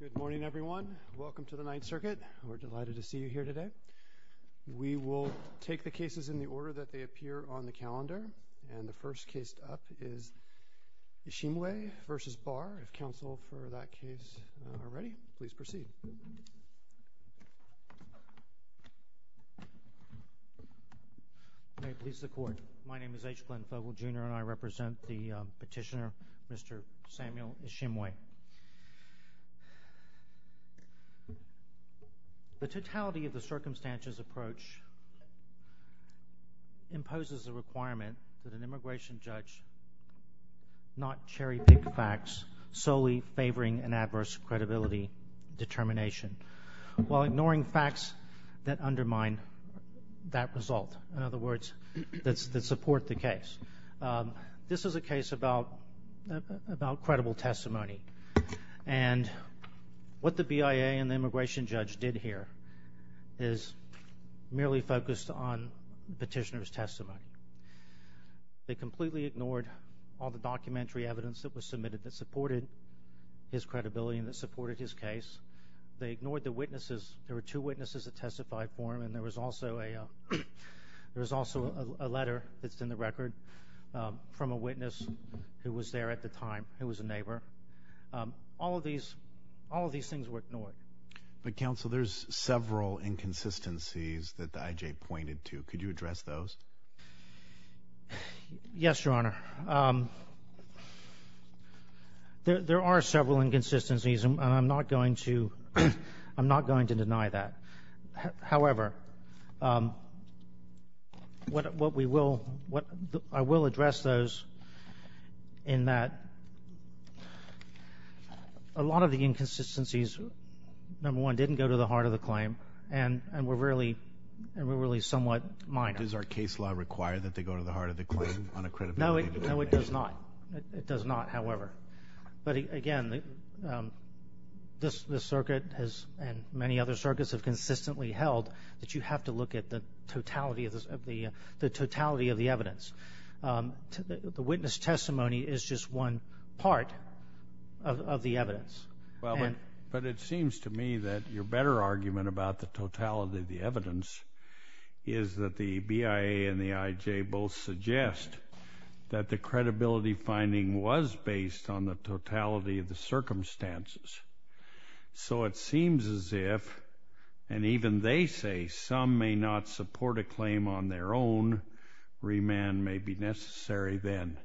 Good morning, everyone. Welcome to the Ninth Circuit. We're delighted to see you here today. We will take the cases in the order that they appear on the calendar. And the first case up is Ishimwe v. Barr. If counsel for that case are ready, please proceed. May it please the Court. My name is H. Glenn Fogel, Jr. and I represent the petitioner, Mr. Samuel Ishimwe. The totality of the circumstances approach imposes a requirement that an immigration judge not cherry-pick facts solely favoring an adverse credibility determination, while ignoring facts that undermine that result, in other words, that support the case. This is a case about credible testimony, and what the BIA and the immigration judge did here is merely focused on the petitioner's testimony. They completely ignored all the documentary evidence that was submitted that supported his credibility and that supported his case. They ignored the witnesses. There were two witnesses that testified for him, and there was also a letter that's in the record from a witness who was there at the time, who was a neighbor. All of these things were ignored. But, counsel, there's several inconsistencies that the I.J. pointed to. Could you address those? Yes, Your Honor. There are several inconsistencies, and I'm not going to deny that. However, I will address those in that a lot of the inconsistencies, number one, didn't go to the heart of the claim and were really somewhat minor. Does our case law require that they go to the heart of the claim on a credibility determination? No, it does not. It does not, however. But, again, this circuit and many other circuits have consistently held that you have to look at the totality of the evidence. The witness testimony is just one part of the evidence. But it seems to me that your better argument about the totality of the evidence is that the BIA and the I.J. both suggest that the credibility finding was based on the totality of the circumstances. So it seems as if, and even they say some may not support a claim on their own, remand may be necessary then.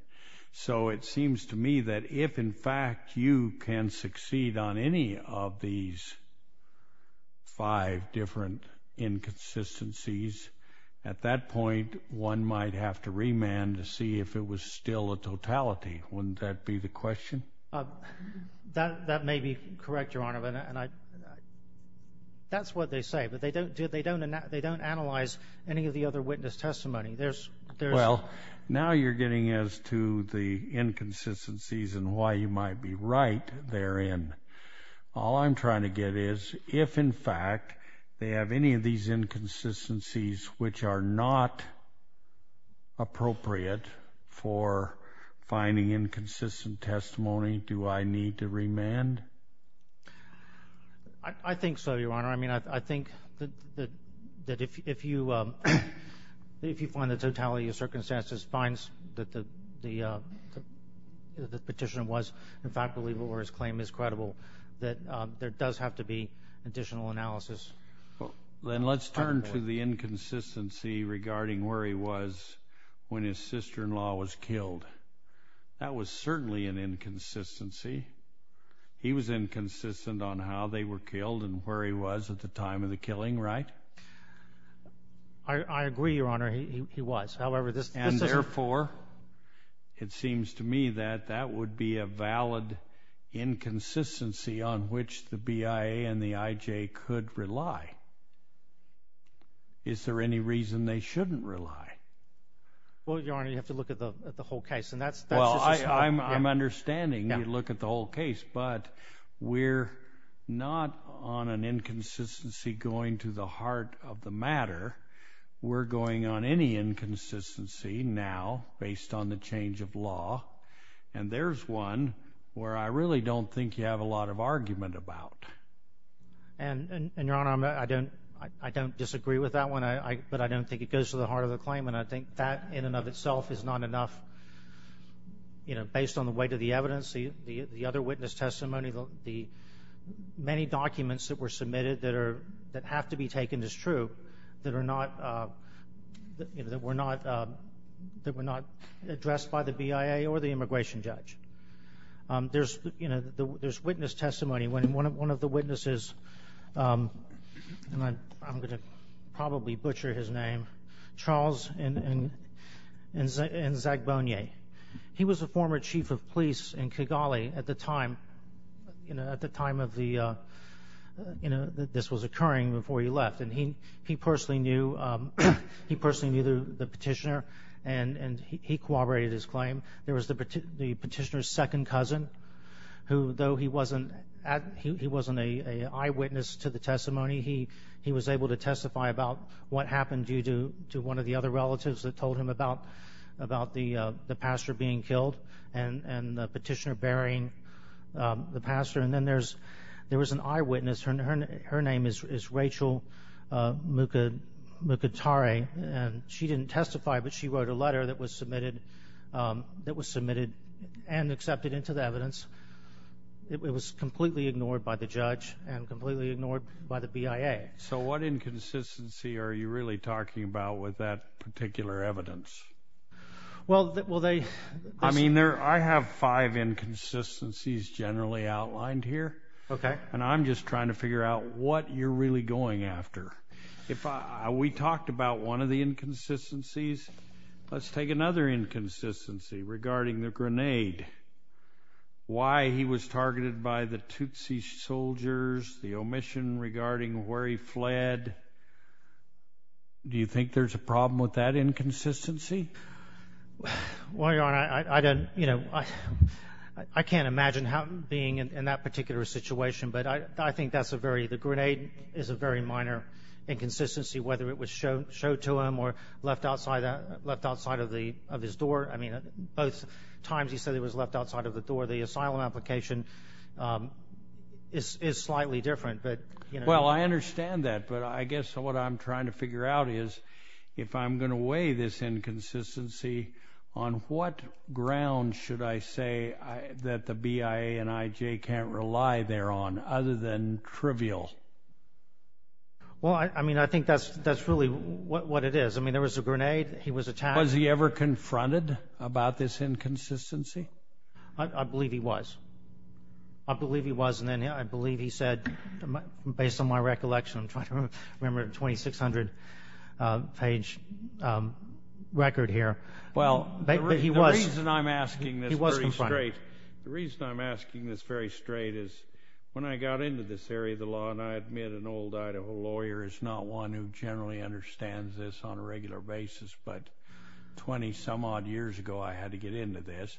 So it seems to me that if, in fact, you can succeed on any of these five different inconsistencies, at that point one might have to remand to see if it was still a totality. Wouldn't that be the question? That may be correct, Your Honor. That's what they say, but they don't analyze any of the other witness testimony. Well, now you're getting as to the inconsistencies and why you might be right therein. All I'm trying to get is if, in fact, they have any of these inconsistencies which are not appropriate for finding inconsistent testimony, do I need to remand? I think so, Your Honor. I mean, I think that if you find the totality of circumstances finds that the petition was, in fact, believable or his claim is credible, that there does have to be additional analysis. Then let's turn to the inconsistency regarding where he was when his sister-in-law was killed. That was certainly an inconsistency. He was inconsistent on how they were killed and where he was at the time of the killing, right? I agree, Your Honor. He was. However, this is… And, therefore, it seems to me that that would be a valid inconsistency on which the BIA and the IJ could rely. Is there any reason they shouldn't rely? Well, Your Honor, you have to look at the whole case. Well, I'm understanding you look at the whole case, but we're not on an inconsistency going to the heart of the matter. We're going on any inconsistency now based on the change of law, and there's one where I really don't think you have a lot of argument about. And, Your Honor, I don't disagree with that one, but I don't think it goes to the heart of the claim. And I think that, in and of itself, is not enough. Based on the weight of the evidence, the other witness testimony, the many documents that were submitted that have to be taken as true that were not addressed by the BIA or the immigration judge. There's witness testimony. One of the witnesses, and I'm going to probably butcher his name, Charles N. Zagbonie. He was a former chief of police in Kigali at the time of the, you know, this was occurring before he left. And he personally knew the petitioner, and he corroborated his claim. There was the petitioner's second cousin, who, though he wasn't an eyewitness to the testimony, he was able to testify about what happened due to one of the other relatives that told him about the pastor being killed and the petitioner burying the pastor. And then there was an eyewitness. Her name is Rachel Mukatare, and she didn't testify, but she wrote a letter that was submitted and accepted into the evidence. It was completely ignored by the judge and completely ignored by the BIA. So what inconsistency are you really talking about with that particular evidence? I mean, I have five inconsistencies generally outlined here, and I'm just trying to figure out what you're really going after. If we talked about one of the inconsistencies, let's take another inconsistency regarding the grenade, why he was targeted by the Tutsi soldiers, the omission regarding where he fled. Do you think there's a problem with that inconsistency? Well, Your Honor, I don't, you know, I can't imagine being in that particular situation, but I think that's a very, the grenade is a very minor inconsistency, whether it was showed to him or left outside of his door. I mean, both times he said it was left outside of the door. The asylum application is slightly different. Well, I understand that, but I guess what I'm trying to figure out is if I'm going to weigh this inconsistency, on what ground should I say that the BIA and IJ can't rely thereon other than trivial? Well, I mean, I think that's really what it is. I mean, there was a grenade. He was attacked. Was he ever confronted about this inconsistency? I believe he was. I believe he was, and then I believe he said, based on my recollection, I'm trying to remember, 2600-page record here. Well, the reason I'm asking this very straight is when I got into this area of the law, and I admit an old Idaho lawyer is not one who generally understands this on a regular basis, but 20-some-odd years ago I had to get into this.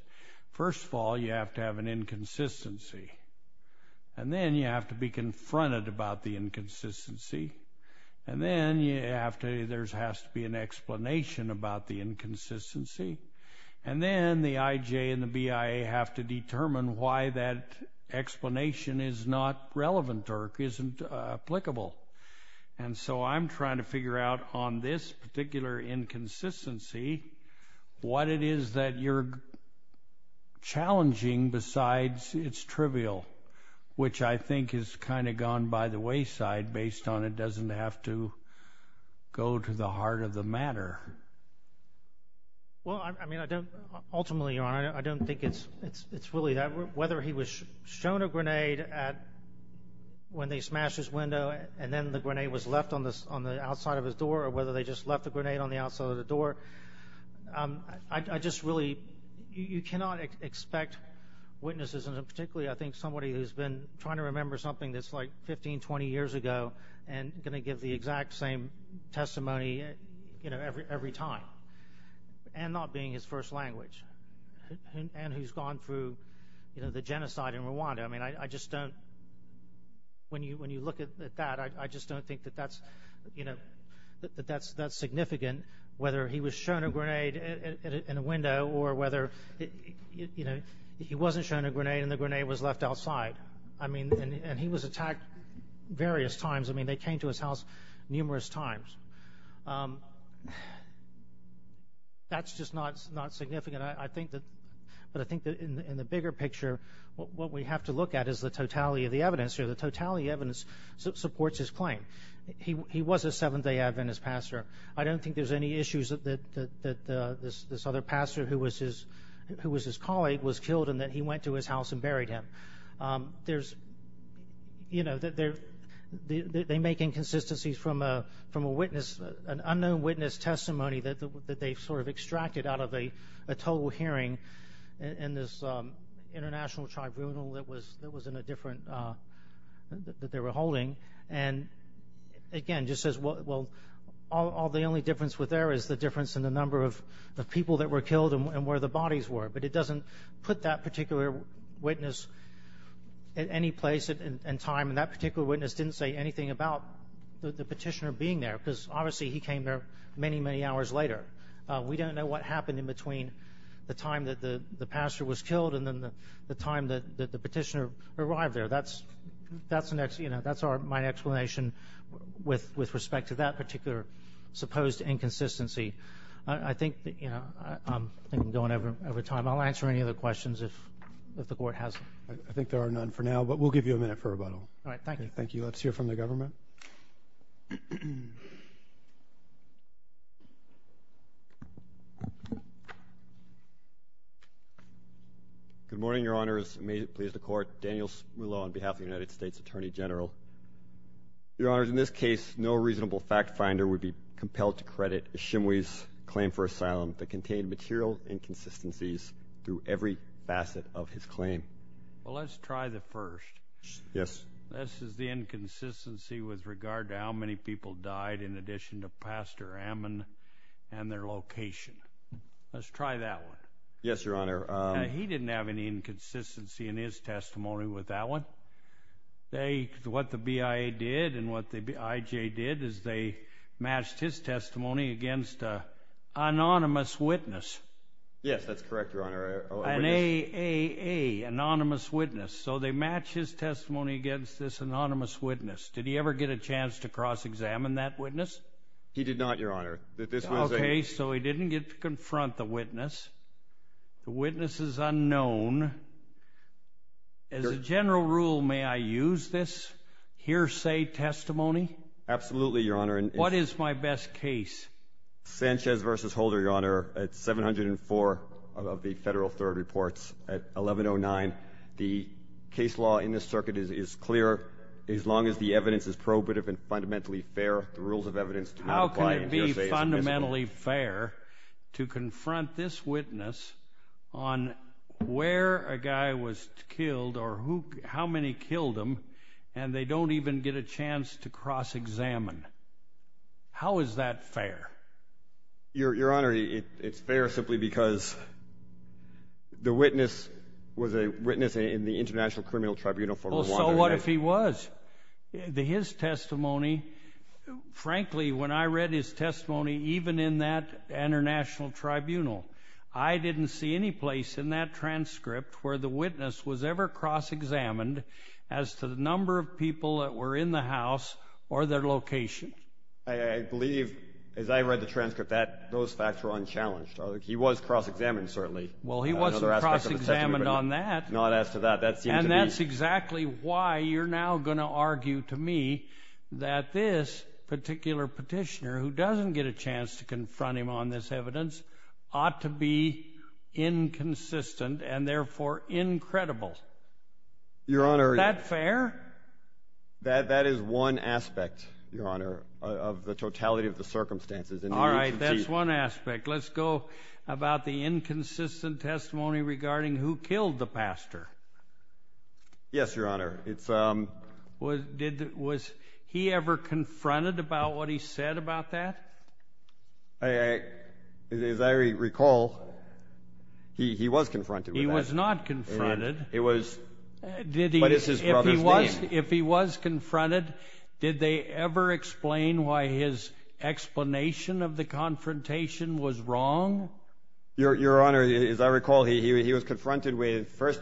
First of all, you have to have an inconsistency, and then you have to be confronted about the inconsistency, and then there has to be an explanation about the inconsistency, and then the IJ and the BIA have to determine why that explanation is not relevant or isn't applicable. And so I'm trying to figure out on this particular inconsistency what it is that you're challenging besides it's trivial, which I think has kind of gone by the wayside based on it doesn't have to go to the heart of the matter. Well, I mean, ultimately, Your Honor, I don't think it's really that. Whether he was shown a grenade when they smashed his window and then the grenade was left on the outside of his door or whether they just left the grenade on the outside of the door, I just really you cannot expect witnesses, and particularly I think somebody who's been trying to remember something that's like 15, 20 years ago and going to give the exact same testimony every time and not being his first language When you look at that, I just don't think that that's significant, whether he was shown a grenade in a window or whether he wasn't shown a grenade and the grenade was left outside. I mean, and he was attacked various times. I mean, they came to his house numerous times. That's just not significant. But I think that in the bigger picture, what we have to look at is the totality of the evidence. The totality of the evidence supports his claim. He was a Seventh-day Adventist pastor. I don't think there's any issues that this other pastor who was his colleague was killed and that he went to his house and buried him. They make inconsistencies from an unknown witness testimony that they've sort of extracted out of a total hearing in this international tribunal that they were holding and, again, just says, well, the only difference there is the difference in the number of people that were killed and where the bodies were. But it doesn't put that particular witness at any place in time, and that particular witness didn't say anything about the petitioner being there because, obviously, he came there many, many hours later. We don't know what happened in between the time that the pastor was killed and then the time that the petitioner arrived there. That's my explanation with respect to that particular supposed inconsistency. I think I'm going over time. I'll answer any other questions if the Court has them. I think there are none for now, but we'll give you a minute for rebuttal. All right, thank you. Thank you. Let's hear from the government. Good morning, Your Honors. May it please the Court. Daniel Smula on behalf of the United States Attorney General. Your Honors, in this case, no reasonable fact finder would be compelled to credit Ishimwe's claim for asylum that contained material inconsistencies through every facet of his claim. Well, let's try the first. Yes. This is the inconsistency with regard to how many people died in addition to Pastor Ammon and their location. Let's try that one. Yes, Your Honor. He didn't have any inconsistency in his testimony with that one. What the BIA did and what the IJ did is they matched his testimony against an anonymous witness. Yes, that's correct, Your Honor. An A-A-A, anonymous witness. So they matched his testimony against this anonymous witness. Did he ever get a chance to cross-examine that witness? He did not, Your Honor. Okay, so he didn't get to confront the witness. The witness is unknown. As a general rule, may I use this hearsay testimony? Absolutely, Your Honor. What is my best case? Sanchez v. Holder, Your Honor. It's 704 of the federal third reports at 1109. The case law in this circuit is clear. As long as the evidence is probative and fundamentally fair, the rules of evidence do not apply. How can it be fundamentally fair to confront this witness on where a guy was killed or how many killed him and they don't even get a chance to cross-examine? How is that fair? Your Honor, it's fair simply because the witness was a witness in the International Criminal Tribunal for Rwanda. So what if he was? His testimony, frankly, when I read his testimony, even in that international tribunal, I didn't see any place in that transcript where the witness was ever cross-examined as to the number of people that were in the house or their location. I believe, as I read the transcript, that those facts were unchallenged. He was cross-examined, certainly. Well, he wasn't cross-examined on that. Not as to that. And that's exactly why you're now going to argue to me that this particular petitioner, who doesn't get a chance to confront him on this evidence, ought to be inconsistent and therefore incredible. Your Honor. Is that fair? That is one aspect, Your Honor, of the totality of the circumstances. All right, that's one aspect. Let's go about the inconsistent testimony regarding who killed the pastor. Yes, Your Honor. Was he ever confronted about what he said about that? As I recall, he was confronted with that. He was not confronted. But it's his brother's name. If he was confronted, did they ever explain why his explanation of the confrontation was wrong? Your Honor, as I recall, he was confronted with first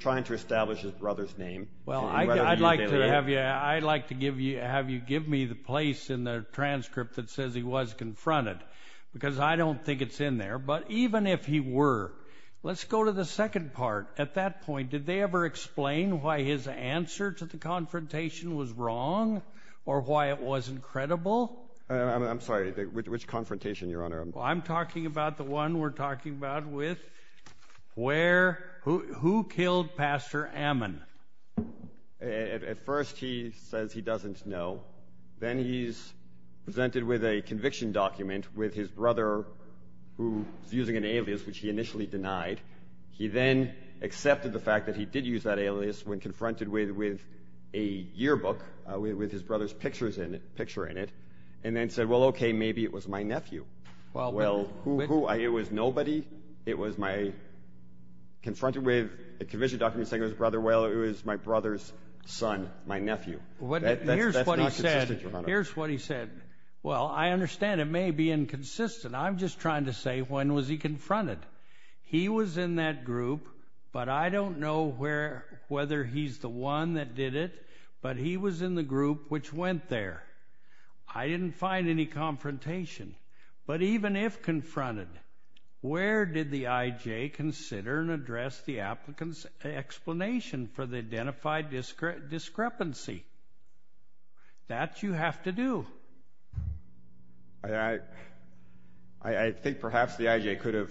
trying to establish his brother's name. I'd like to have you give me the place in the transcript that says he was confronted because I don't think it's in there. But even if he were, let's go to the second part. At that point, did they ever explain why his answer to the confrontation was wrong or why it wasn't credible? I'm sorry. Which confrontation, Your Honor? I'm talking about the one we're talking about with who killed Pastor Ammon. At first he says he doesn't know. Then he's presented with a conviction document with his brother, who is using an alias which he initially denied. He then accepted the fact that he did use that alias when confronted with a yearbook with his brother's picture in it and then said, well, okay, maybe it was my nephew. Well, who? It was nobody. It was my, confronted with a conviction document saying it was his brother. Well, it was my brother's son, my nephew. That's not consistent, Your Honor. Here's what he said. Well, I understand it may be inconsistent. I'm just trying to say when was he confronted? He was in that group, but I don't know whether he's the one that did it, but he was in the group which went there. I didn't find any confrontation. But even if confronted, where did the IJ consider and address the applicant's explanation for the identified discrepancy? That you have to do. I think perhaps the IJ could have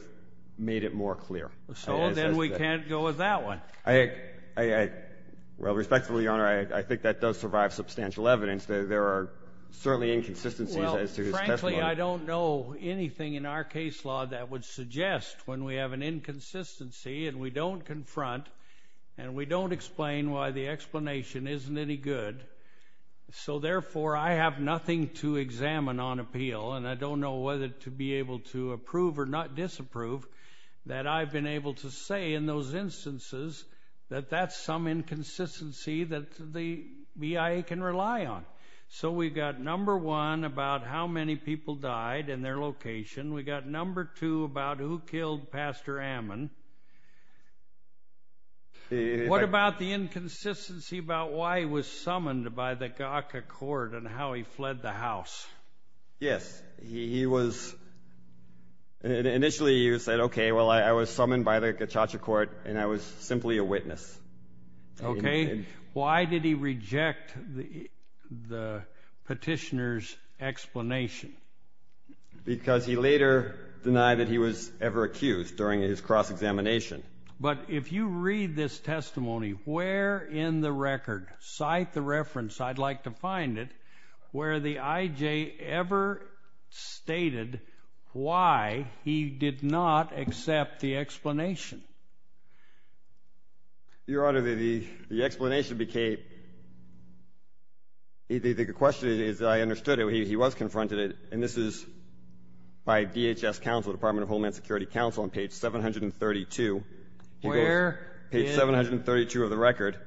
made it more clear. So then we can't go with that one. Well, respectfully, Your Honor, I think that does survive substantial evidence that there are certainly inconsistencies as to his testimony. Well, frankly, I don't know anything in our case law that would suggest when we have an inconsistency and we don't confront and we don't explain why the explanation isn't any good, so therefore I have nothing to examine on appeal, and I don't know whether to be able to approve or not disapprove that I've been able to say in those instances that that's some inconsistency that the BIA can rely on. So we've got number one about how many people died and their location. We've got number two about who killed Pastor Ammon. What about the inconsistency about why he was summoned by the GACA court and how he fled the house? Yes. Initially he said, okay, well, I was summoned by the GACA court and I was simply a witness. Why did he reject the petitioner's explanation? Because he later denied that he was ever accused during his cross-examination. But if you read this testimony, where in the record, cite the reference, I'd like to find it, where the I.J. ever stated why he did not accept the explanation. Your Honor, the explanation became, the question is that I understood it. He was confronted, and this is by DHS counsel, Department of Homeland Security counsel, on page 732. Where in? Page 732 of the record.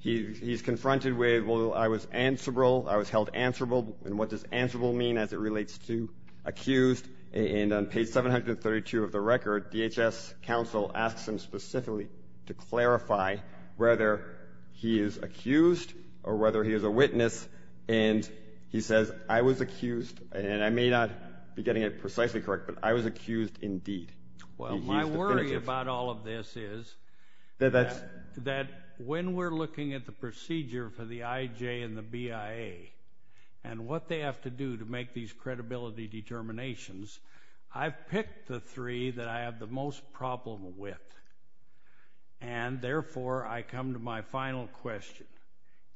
He's confronted with, well, I was answerable, I was held answerable. And what does answerable mean as it relates to accused? And on page 732 of the record, DHS counsel asks him specifically to clarify whether he is accused or whether he is a witness. And he says, I was accused, and I may not be getting it precisely correct, but I was accused indeed. Well, my worry about all of this is that when we're looking at the procedure for the I.J. and the BIA and what they have to do to make these credibility determinations, I've picked the three that I have the most problem with. And, therefore, I come to my final question.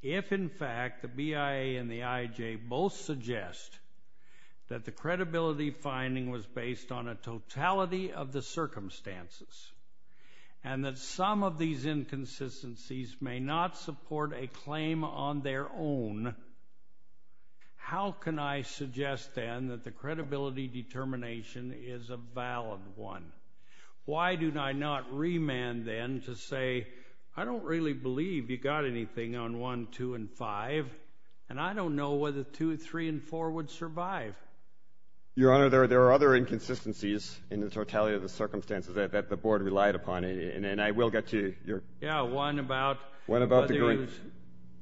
If, in fact, the BIA and the I.J. both suggest that the credibility finding was based on a totality of the circumstances and that some of these inconsistencies may not support a claim on their own, how can I suggest, then, that the credibility determination is a valid one? Why do I not remand, then, to say, I don't really believe you got anything on 1, 2, and 5, and I don't know whether 2, 3, and 4 would survive? Your Honor, there are other inconsistencies in the totality of the circumstances that the Board relied upon, and I will get to your...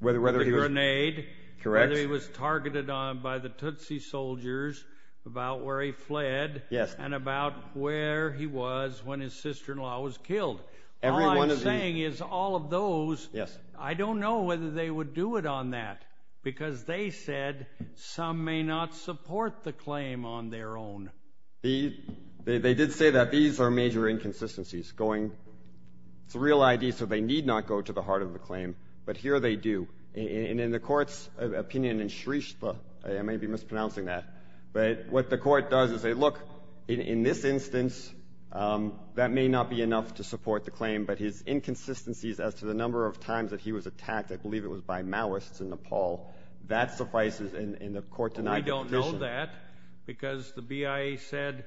Whether he was targeted by the Tootsie soldiers, about where he fled, and about where he was when his sister-in-law was killed. All I'm saying is all of those, I don't know whether they would do it on that because they said some may not support the claim on their own. They did say that these are major inconsistencies. It's a real I.D., so they need not go to the heart of the claim, but here they do. And in the Court's opinion in Shreestha, I may be mispronouncing that, but what the Court does is say, look, in this instance, that may not be enough to support the claim, but his inconsistencies as to the number of times that he was attacked, I believe it was by Maoists in Nepal, that suffices in the court-denied petition. We don't know that because the BIA said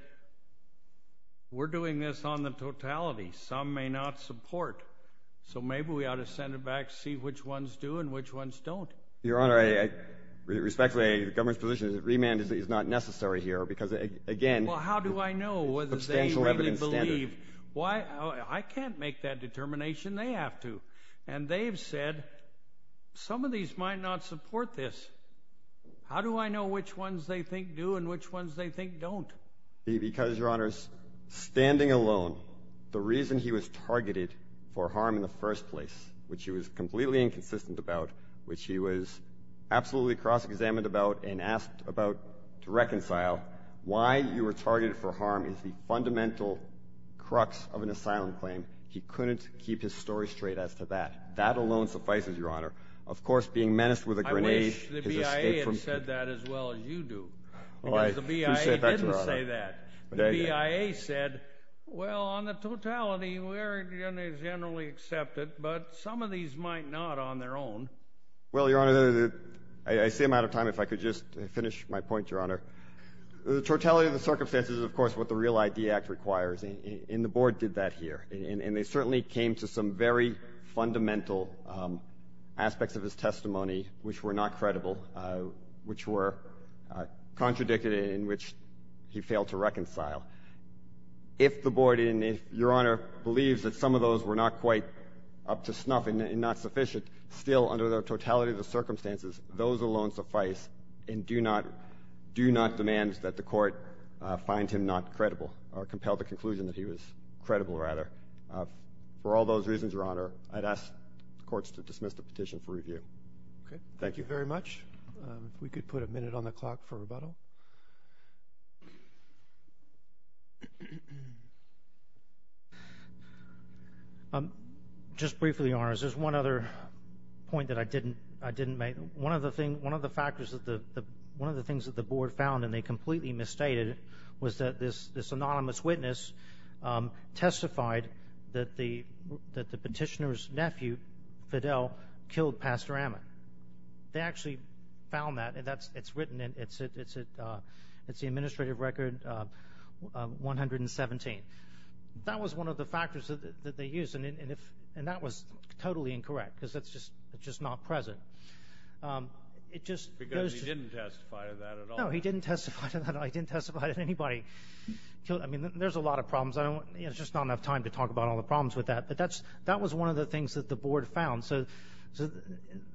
we're doing this on the totality. Some may not support. So maybe we ought to send it back, see which ones do and which ones don't. Your Honor, respectfully, the government's position is that remand is not necessary here because, again, substantial evidence standard. Well, how do I know whether they really believe? I can't make that determination. They have to, and they have said some of these might not support this. How do I know which ones they think do and which ones they think don't? Because, Your Honor, standing alone, the reason he was targeted for harm in the first place, which he was completely inconsistent about, which he was absolutely cross-examined about and asked about to reconcile, why you were targeted for harm is the fundamental crux of an asylum claim. He couldn't keep his story straight as to that. That alone suffices, Your Honor. Of course, being menaced with a grenade is a scape for man. I wish the BIA had said that as well as you do. Well, I appreciate that, Your Honor. Because the BIA didn't say that. The BIA said, well, on the totality, we're going to generally accept it, but some of these might not on their own. Well, Your Honor, I see I'm out of time. If I could just finish my point, Your Honor. The totality of the circumstances is, of course, what the REAL ID Act requires, and the Board did that here, and they certainly came to some very fundamental aspects of his testimony which were not credible, which were contradicted and in which he failed to reconcile. If the Board and if Your Honor believes that some of those were not quite up to snuff and not sufficient, still, under the totality of the circumstances, those alone suffice and do not demand that the Court find him not credible or compel the conclusion that he was credible, rather. For all those reasons, Your Honor, I'd ask the courts to dismiss the petition for review. Okay. Thank you very much. If we could put a minute on the clock for rebuttal. Just briefly, Your Honors, there's one other point that I didn't make. One of the things that the Board found, and they completely misstated it, was that this anonymous witness testified that the petitioner's nephew, Fidel, killed Pastor Amick. They actually found that, and it's written, and it's the Administrative Record 117. That was one of the factors that they used, and that was totally incorrect because it's just not present. Because he didn't testify to that at all. No, he didn't testify to that at all. He didn't testify to anybody. I mean, there's a lot of problems. There's just not enough time to talk about all the problems with that. But that was one of the things that the Board found. So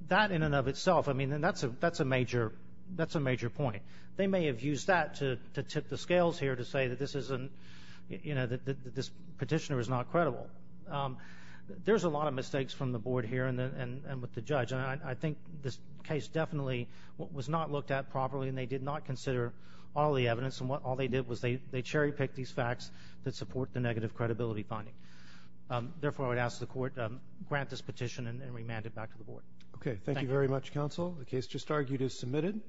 that in and of itself, I mean, that's a major point. They may have used that to tip the scales here to say that this petitioner is not credible. There's a lot of mistakes from the Board here and with the judge. And I think this case definitely was not looked at properly, and they did not consider all the evidence. And all they did was they cherry-picked these facts that support the negative credibility finding. Therefore, I would ask the Court to grant this petition and remand it back to the Board. Okay, thank you very much, Counsel. The case just argued is submitted.